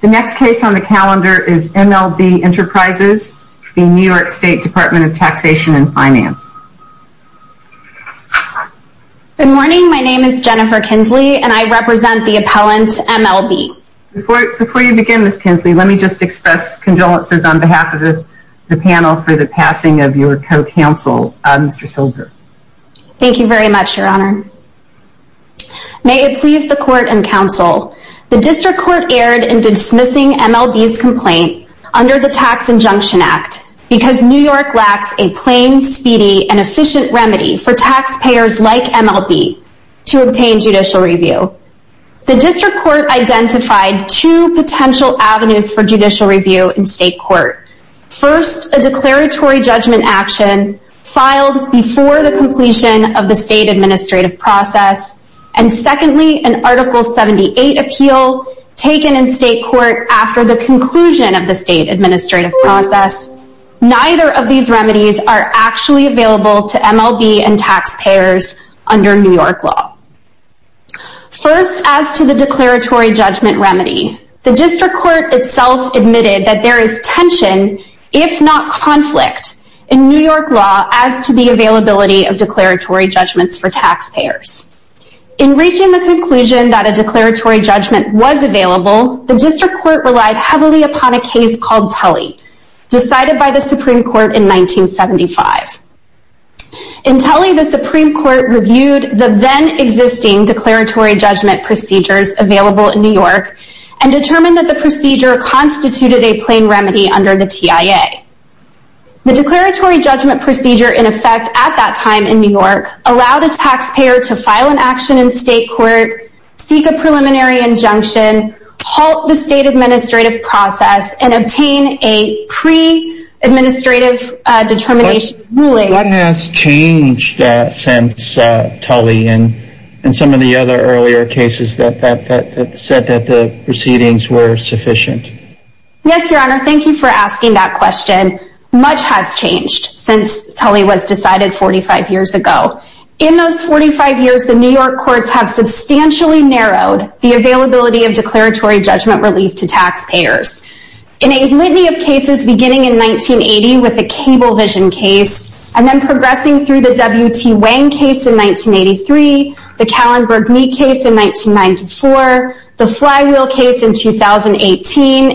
The next case on the calendar is MLB Enterprises v. New York State Department of Taxation and Finance. Good morning. My name is Jennifer Kinsley and I represent the appellant, MLB. Before you begin, Ms. Kinsley, let me just express condolences on behalf of the panel for the passing of your co-counsel, Mr. Silver. Thank you very much, Your Honor. May it please the Court and Counsel. The District Court erred in dismissing MLB's complaint under the Tax Injunction Act because New York lacks a plain, speedy, and efficient remedy for taxpayers like MLB to obtain judicial review. The District Court identified two potential avenues for judicial review in state court. First, a declaratory judgment action filed before the completion of the state administrative process. And secondly, an Article 78 appeal taken in state court after the conclusion of the state administrative process. Neither of these remedies are actually available to MLB and taxpayers under New York law. First, as to the declaratory judgment remedy, the District Court itself admitted that there is tension, if not conflict, in New York law as to the availability of declaratory judgments for taxpayers. In reaching the conclusion that a declaratory judgment was available, the District Court relied heavily upon a case called Tully, decided by the Supreme Court in 1975. In Tully, the Supreme Court reviewed the then-existing declaratory judgment procedures available in New York and determined that the procedure constituted a plain remedy under the TIA. The declaratory judgment procedure, in effect, at that time in New York, allowed a taxpayer to file an action in state court, seek a preliminary injunction, halt the state administrative process, and obtain a pre-administrative determination ruling. What has changed since Tully and some of the other earlier cases that said that the proceedings were sufficient? Yes, Your Honor, thank you for asking that question. Much has changed since Tully was decided 45 years ago. In those 45 years, the New York courts have substantially narrowed the availability of declaratory judgment relief to taxpayers. In a litany of cases beginning in 1980 with the Cablevision case, and then progressing through the W.T.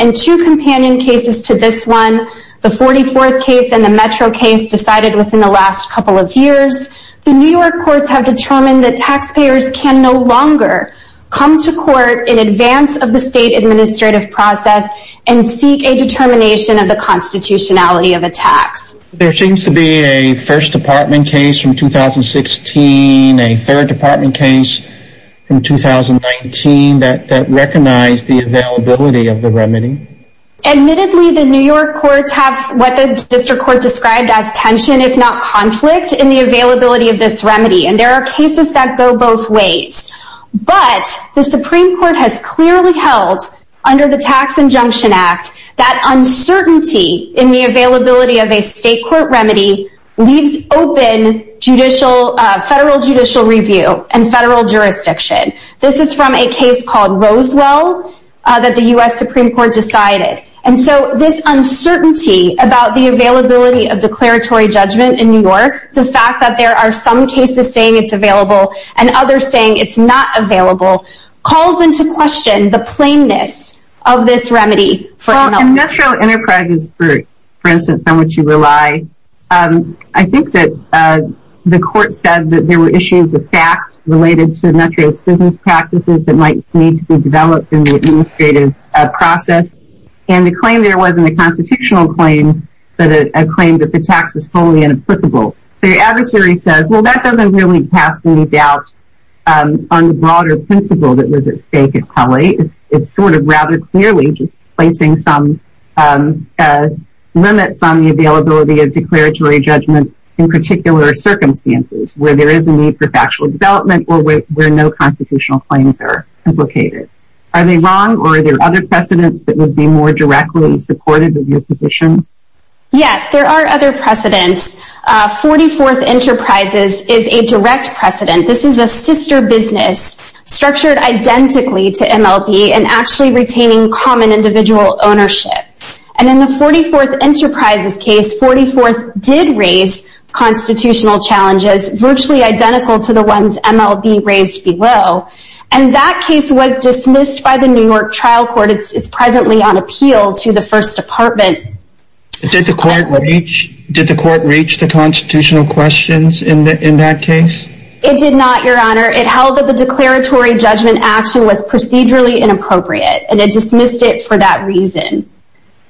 and two companion cases to this one, the 44th case and the Metro case decided within the last couple of years, the New York courts have determined that taxpayers can no longer come to court in advance of the state administrative process and seek a determination of the constitutionality of a tax. There seems to be a first department case from 2016, a third department case in 2019 that recognized the availability of the remedy. Admittedly, the New York courts have what the district court described as tension, if not conflict, in the availability of this remedy. And there are cases that go both ways. But, the Supreme Court has clearly held, under the Tax Injunction Act, that uncertainty in the availability of a state court remedy leaves open federal judicial review and federal jurisdiction. This is from a case called Roswell that the U.S. Supreme Court decided. And so, this uncertainty about the availability of declaratory judgment in New York, the fact that there are some cases saying it's available and others saying it's not available, calls into question the plainness of this remedy for the military. In Metro Enterprises, for instance, on which you rely, I think that the court said that there were issues of fact related to Metro's business practices that might need to be developed in the administrative process. And the claim there wasn't a constitutional claim, but a claim that the tax was wholly inapplicable. So, the adversary says, well, that doesn't really cast any doubt on the broader principle that was at stake in Calais. It's sort of rather clearly just placing some limits on the availability of declaratory judgment in particular circumstances where there is a need for factual development or where no constitutional claims are implicated. Are they wrong or are there other precedents that would be more directly supportive of your position? Yes, there are other precedents. 44th Enterprises is a direct precedent. This is a sister business structured identically to MLB and actually retaining common individual ownership. And in the 44th Enterprises case, 44th did raise constitutional challenges virtually identical to the ones MLB raised below. And that case was dismissed by the New York trial court. It's presently on appeal to the First Department. Did the court reach the constitutional questions in that case? It did not, Your Honor. It held that the declaratory judgment action was procedurally inappropriate and it dismissed it for that reason.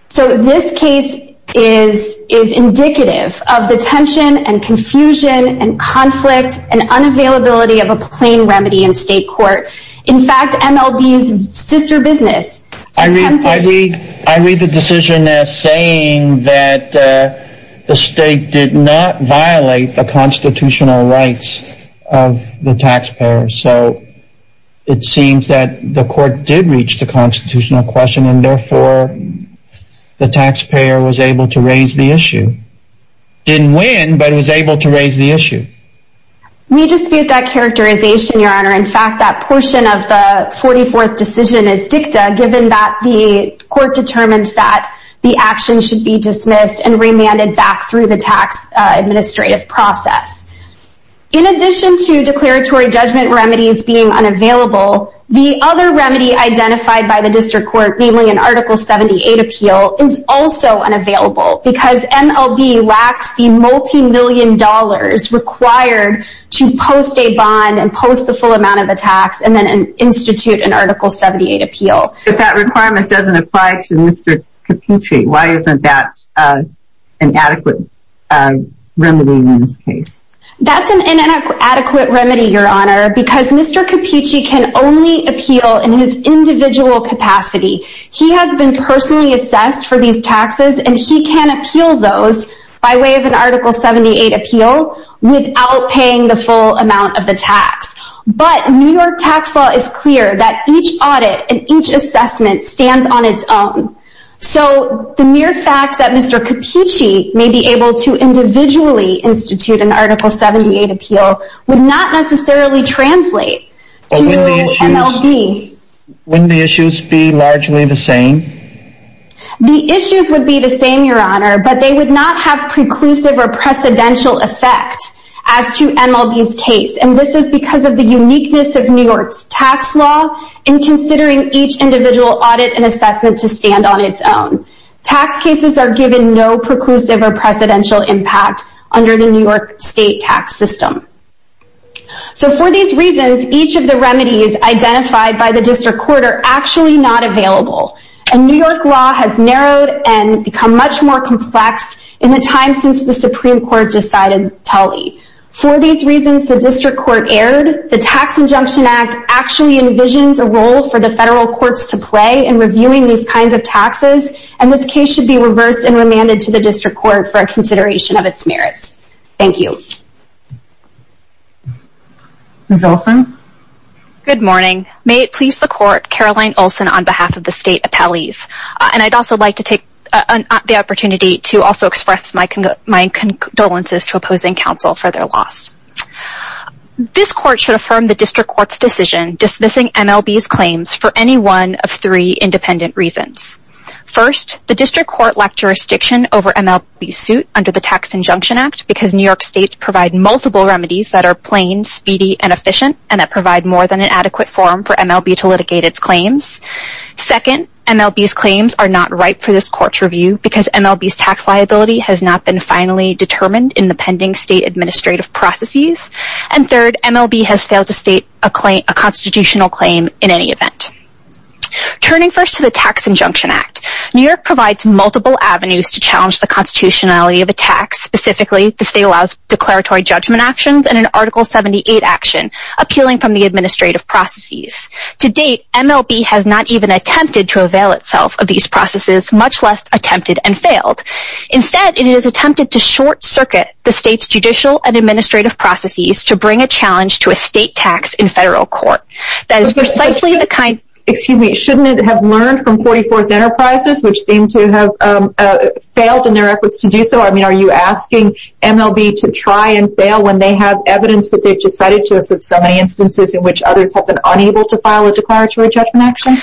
So this case is indicative of the tension and confusion and conflict and unavailability of a plain remedy in state court. In fact, MLB's sister business attempted... I read the decision as saying that the state did not violate the constitutional rights of the taxpayer. So it seems that the court did reach the constitutional question and therefore the taxpayer was able to raise the issue. Didn't win, but was able to raise the issue. We dispute that characterization, Your Honor. In fact, that portion of the 44th decision is dicta given that the court determined that the action should be dismissed and remanded back through the tax administrative process. In addition to declaratory judgment remedies being unavailable, the other remedy identified by the district court, namely an Article 78 appeal, is also unavailable because MLB lacks the multi-million dollars required to post a bond and post the full amount of the tax and then institute an Article 78 appeal. If that requirement doesn't apply to Mr. Caputri, why isn't that an adequate remedy in this case? That's an inadequate remedy, Your Honor, because Mr. Caputri can only appeal in his individual capacity. He has been personally assessed for these taxes and he can appeal those by way of an Article 78 appeal without paying the full amount of the tax. But New York tax law is clear that each audit and each assessment stands on its own. So the mere fact that Mr. Caputri may be able to individually institute an Article 78 appeal would not necessarily translate to MLB. Wouldn't the issues be largely the same? The issues would be the same, Your Honor, but they would not have preclusive or precedential effect as to MLB's case. And this is because of the uniqueness of New York's tax law in considering each individual audit and assessment to stand on its own. Tax cases are given no preclusive or precedential impact under the New York state tax system. So for these reasons, each of the remedies identified by the District Court are actually not available. And New York law has narrowed and become much more complex in the time since the Supreme Court decided Tully. For these reasons, the District Court erred, the Tax Injunction Act actually envisions a role for the federal courts to play in reviewing these kinds of taxes. And this case should be reversed and remanded to the District Court for consideration of its merits. Thank you. Ms. Olson? Good morning. May it please the Court, Caroline Olson on behalf of the state appellees. And I'd also like to take the opportunity to also express my condolences to opposing counsel for their loss. This Court should affirm the District Court's decision dismissing MLB's claims for any one of three independent reasons. First, the District Court lacked jurisdiction over MLB's suit under the Tax Injunction Act because New York states provide multiple remedies that are plain, speedy, and efficient and that provide more than an adequate forum for MLB to litigate its claims. Second, MLB's claims are not ripe for this Court's review because MLB's tax liability has not been finally determined in the pending state administrative processes. And third, MLB has failed to state a constitutional claim in any event. Turning first to the Tax Injunction Act, New York provides multiple avenues to challenge the constitutionality of a tax. Specifically, the state allows declaratory judgment actions and an Article 78 action appealing from the administrative processes. To date, MLB has not even attempted to avail itself of these processes, much less attempted and failed. Instead, it has attempted to short-circuit the state's judicial and administrative processes to bring a challenge to a state tax in federal court. That is precisely the kind- Excuse me, shouldn't it have learned from 44th Enterprises, which seem to have failed in their efforts to do so? I mean, are you asking MLB to try and fail when they have evidence that they've decided to in so many instances in which others have been unable to file a declaratory judgment action?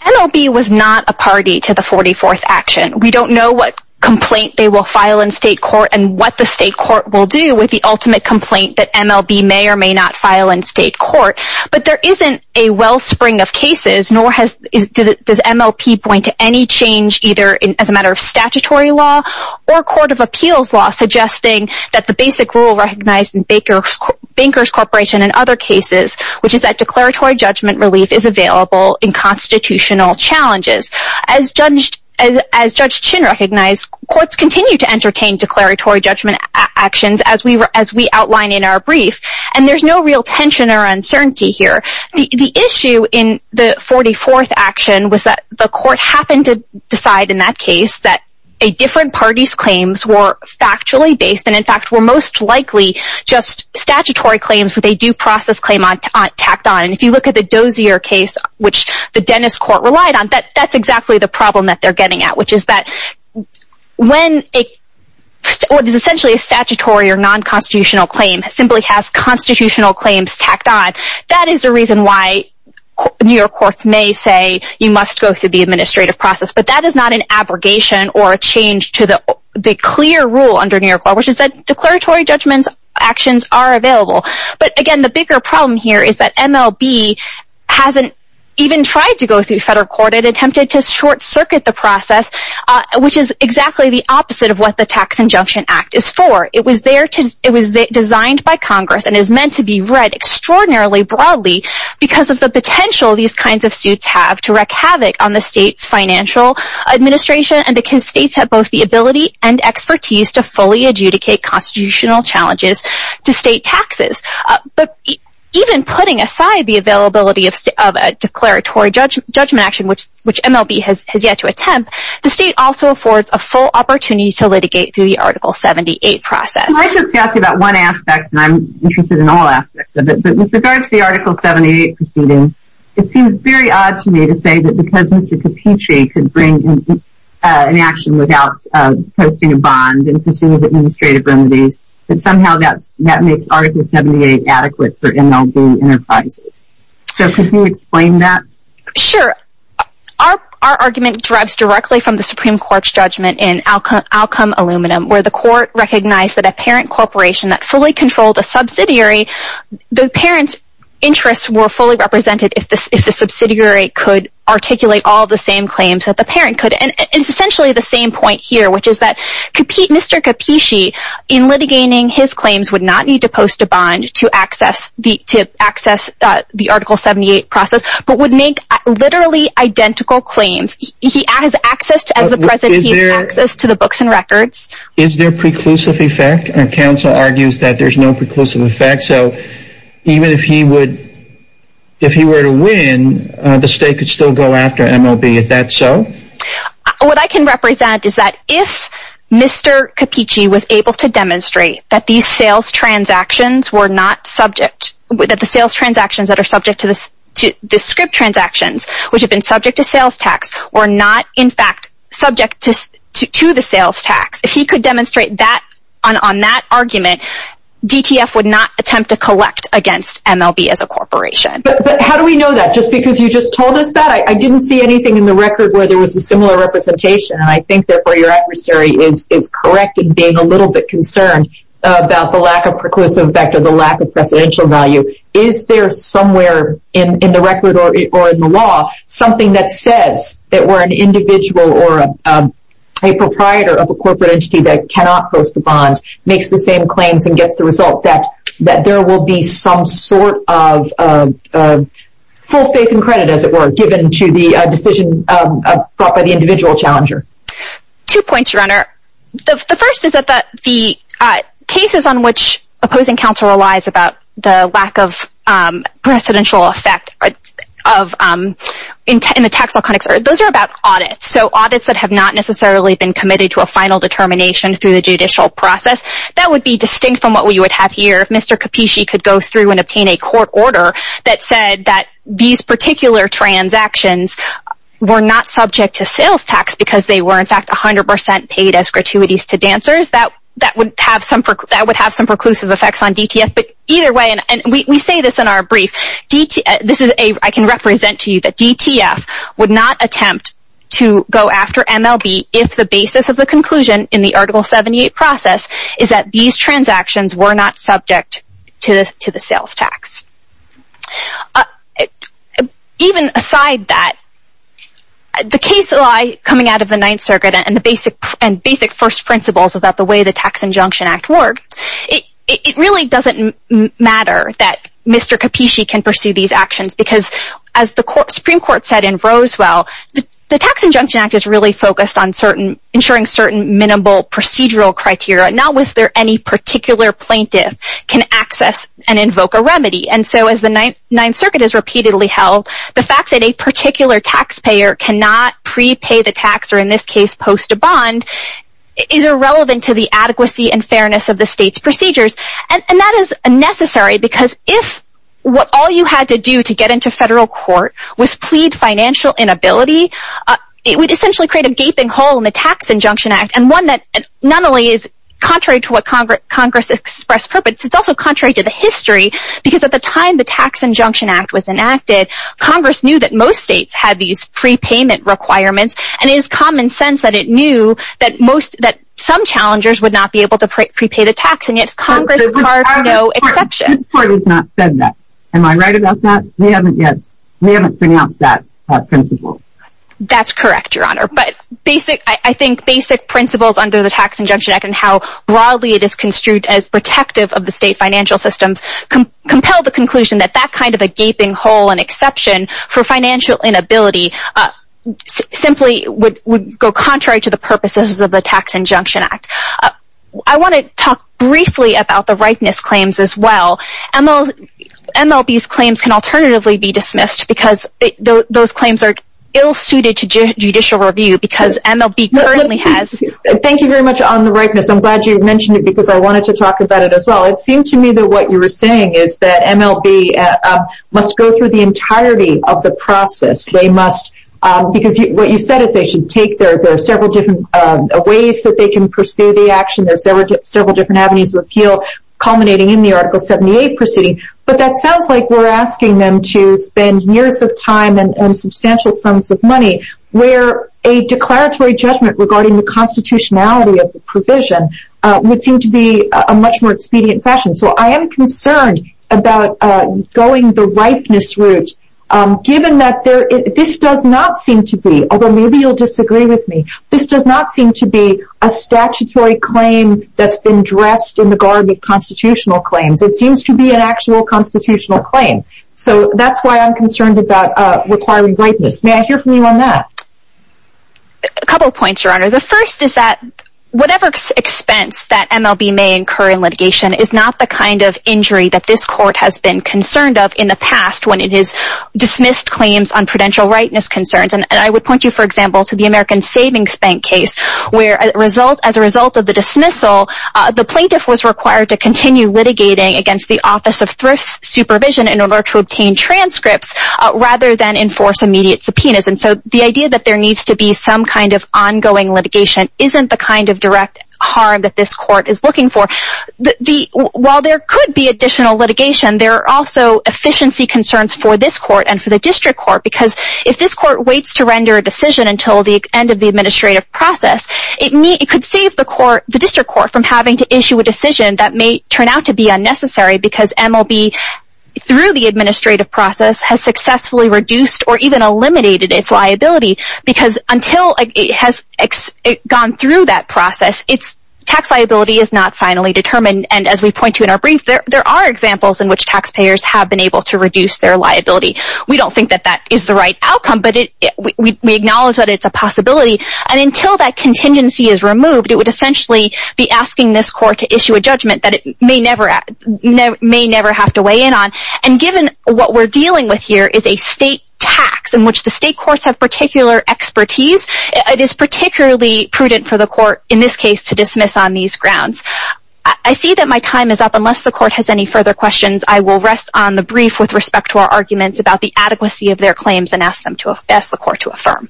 MLB was not a party to the 44th Action. We don't know what complaint they will file in state court and what the state court will do with the ultimate complaint that MLB may or may not file in state court. But there isn't a wellspring of cases, nor does MLB point to any change either as a matter of statutory law or court of appeals law, suggesting that the basic rule recognized in Bankers Corporation and other cases, which is that declaratory judgment relief is available in constitutional challenges. As Judge Chin recognized, courts continue to entertain declaratory judgment actions as we outline in our brief, and there's no real tension or uncertainty here. The issue in the 44th Action was that the court happened to decide in that case that a different party's claims were factually based and in fact were most likely just statutory claims with a due process claim tacked on. If you look at the Dozier case, which the Dennis Court relied on, that's exactly the problem that they're getting at, which is that when essentially a statutory or non-constitutional claim simply has constitutional claims tacked on, that is the reason why New York courts may say you must go through the administrative process, but that is not an abrogation or a change to the clear rule under New York law, which is that declaratory judgment actions are available. But again, the bigger problem here is that MLB hasn't even tried to go through federal court. It attempted to short-circuit the process, which is exactly the opposite of what the Tax Injunction Act is for. It was designed by Congress and is meant to be read extraordinarily broadly because of the potential these kinds of suits have to wreak havoc on the state's financial administration and because states have both the ability and expertise to fully adjudicate constitutional challenges to state taxes. But even putting aside the availability of a declaratory judgment action, which MLB has yet to attempt, the state also affords a full opportunity to litigate through the Article 78 process. Can I just ask you about one aspect, and I'm interested in all aspects of it, but with regard to the Article 78 proceeding, it seems very odd to me to say that because Mr. Capucci could bring an action without posting a bond and pursuing administrative remedies, that somehow that makes Article 78 adequate for MLB enterprises. So could you explain that? Sure. Our argument derives directly from the Supreme Court's judgment in Outcome Aluminum, where the court recognized that a parent corporation that fully controlled a subsidiary, the parent's were fully represented if the subsidiary could articulate all the same claims that the parent could. And it's essentially the same point here, which is that Mr. Capucci, in litigating his claims, would not need to post a bond to access the Article 78 process, but would make literally identical claims. He has access to the books and records. Is there preclusive effect? Our counsel argues that there's no preclusive effect, so even if he were to win, the state could still go after MLB. Is that so? What I can represent is that if Mr. Capucci was able to demonstrate that these sales transactions were not subject, that the sales transactions that are subject to the script transactions, which have been subject to sales tax, were not in fact subject to the sales tax, if he could demonstrate that on that argument, DTF would not attempt to collect against MLB as a corporation. But how do we know that? Just because you just told us that, I didn't see anything in the record where there was a similar representation, and I think therefore your adversary is correct in being a little bit concerned about the lack of preclusive effect or the lack of precedential value. Is there somewhere in the record or in the law something that says that we're an individual or a proprietor of a corporate entity that cannot post a bond makes the same claims and gets the result that there will be some sort of full faith and credit, as it were, given to the decision brought by the individual challenger? Two points, Your Honor. The first is that the cases on which opposing counsel relies about the lack of precedential effect in the tax law context, those are about audits. So audits that have not necessarily been committed to a final determination through the judicial process. That would be distinct from what we would have here if Mr. Capisci could go through and obtain a court order that said that these particular transactions were not subject to sales tax because they were in fact 100% paid as gratuities to dancers. That would have some preclusive effects on DTF. But either way, and we say this in our brief, I can represent to you that DTF would not attempt to go after MLB if the basis of the conclusion in the Article 78 process is that these transactions were not subject to the sales tax. Even aside that, the case law coming out of the Ninth Circuit and basic first principles about the way the Tax Injunction Act worked, it really doesn't matter that Mr. Capisci can pursue these actions because as the Supreme Court said in Roswell, the Tax Injunction Act is really focused on ensuring certain minimal procedural criteria, not whether any particular plaintiff can access and invoke a remedy. And so as the Ninth Circuit has repeatedly held, the fact that a particular taxpayer cannot prepay the tax, or in this case post a bond, is irrelevant to the adequacy and fairness of the state's procedures. And that is necessary because if all you had to do to get into federal court was plead financial inability, it would essentially create a gaping hole in the Tax Injunction Act and one that not only is contrary to what Congress expressed purpose, it's also contrary to the history because at the time the Tax Injunction Act was enacted, Congress knew that most states had these prepayment requirements and it is common sense that it knew that some challengers would not be able to prepay the tax and yet Congress carved no exception. This court has not said that. Am I right about that? We haven't yet. We haven't pronounced that principle. That's correct, Your Honor. But basic, I think basic principles under the Tax Injunction Act and how broadly it is construed as protective of the state financial systems compel the conclusion that that kind of a gaping hole and exception for financial inability simply would go contrary to the Tax Injunction Act. I want to talk briefly about the ripeness claims as well. MLB's claims can alternatively be dismissed because those claims are ill-suited to judicial review because MLB currently has... Thank you very much on the ripeness. I'm glad you mentioned it because I wanted to talk about it as well. It seemed to me that what you were saying is that MLB must go through the entirety of the process. They must because what you said is they should take their several different ways that they can pursue the action. There's several different avenues of appeal culminating in the Article 78 proceeding. But that sounds like we're asking them to spend years of time and substantial sums of money where a declaratory judgment regarding the constitutionality of the provision would seem to be a much more expedient fashion. I am concerned about going the ripeness route given that this does not seem to be, although maybe you'll disagree with me, this does not seem to be a statutory claim that's been dressed in the garb of constitutional claims. It seems to be an actual constitutional claim. So that's why I'm concerned about requiring ripeness. May I hear from you on that? A couple of points, Your Honor. The first is that whatever expense that MLB may incur in litigation is not the kind of injury that this Court has been concerned of in the past when it has dismissed claims on prudential rightness concerns. I would point you, for example, to the American Savings Bank case where as a result of the dismissal, the plaintiff was required to continue litigating against the Office of Thrift Supervision in order to obtain transcripts rather than enforce immediate subpoenas. The idea that there needs to be some kind of ongoing litigation isn't the kind of direct harm that this Court is looking for. While there could be additional litigation, there are also efficiency concerns for this Court and for the District Court because if this Court waits to render a decision until the end of the administrative process, it could save the District Court from having to issue a decision that may turn out to be unnecessary because MLB, through the administrative process, has successfully reduced or even eliminated its liability because until it has gone through that process, its tax liability is not finally determined. As we point to in our brief, there are examples in which taxpayers have been able to reduce their liability. We don't think that that is the right outcome, but we acknowledge that it's a possibility. Until that contingency is removed, it would essentially be asking this Court to issue a judgment that it may never have to weigh in on. Given what we're dealing with here is a state tax in which the state courts have particular expertise, it is particularly prudent for the Court, in this case, to dismiss on these grounds. I see that my time is up. Unless the Court has any further questions, I will rest on the brief with respect to our arguments about the adequacy of their claims and ask the Court to affirm.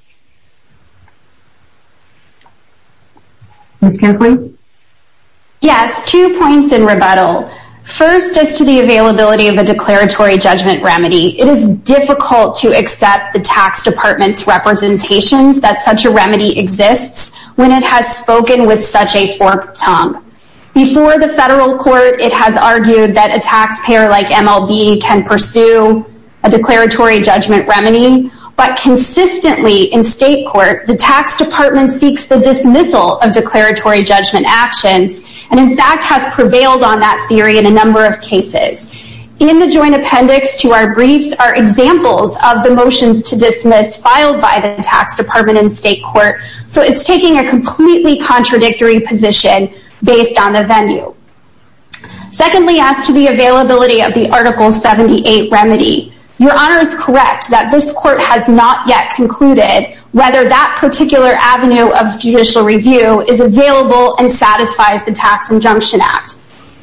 Yes, two points in rebuttal. First, as to the availability of a declaratory judgment remedy, it is difficult to accept the tax department's representations that such a remedy exists when it has spoken with such a forked tongue. Before the federal court, it has argued that a taxpayer like MLB can pursue a declaratory judgment remedy, but consistently in state court, the tax department seeks the dismissal of declaratory judgment actions, and in fact has prevailed on that theory in a number of cases. In the joint appendix to our briefs are examples of the motions to dismiss filed by the tax department in state court, so it's taking a completely contradictory position based on the venue. Secondly, as to the availability of the Article 78 remedy, Your Honor is correct that this is available and satisfies the Tax Injunction Act.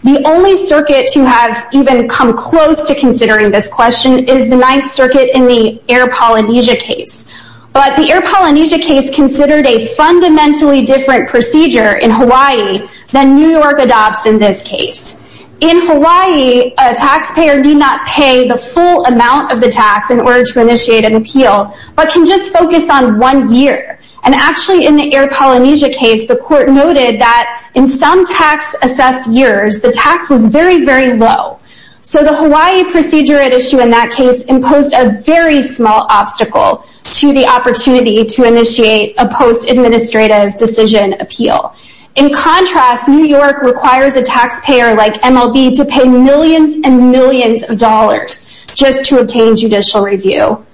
The only circuit to have even come close to considering this question is the Ninth Circuit in the Air Polynesia case, but the Air Polynesia case considered a fundamentally different procedure in Hawaii than New York adopts in this case. In Hawaii, a taxpayer need not pay the full amount of the tax in order to initiate an And actually in the Air Polynesia case, the court noted that in some tax assessed years, the tax was very, very low. So the Hawaii procedure at issue in that case imposed a very small obstacle to the opportunity to initiate a post-administrative decision appeal. In contrast, New York requires a taxpayer like MLB to pay millions and millions of dollars just to obtain judicial review.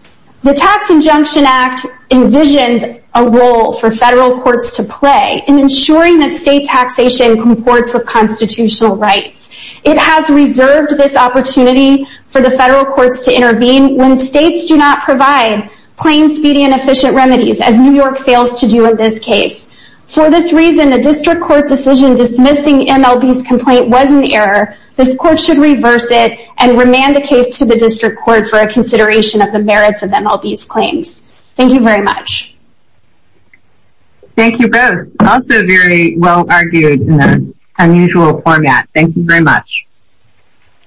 The Tax Injunction Act envisions a role for federal courts to play in ensuring that state taxation comports with constitutional rights. It has reserved this opportunity for the federal courts to intervene when states do not provide plain, speedy, and efficient remedies, as New York fails to do in this case. For this reason, the district court decision dismissing MLB's complaint was an error. This court should reverse it and remand the case to the district court for a consideration of the merits of MLB's claims. Thank you very much. Thank you both. Also very well argued in an unusual format. Thank you very much.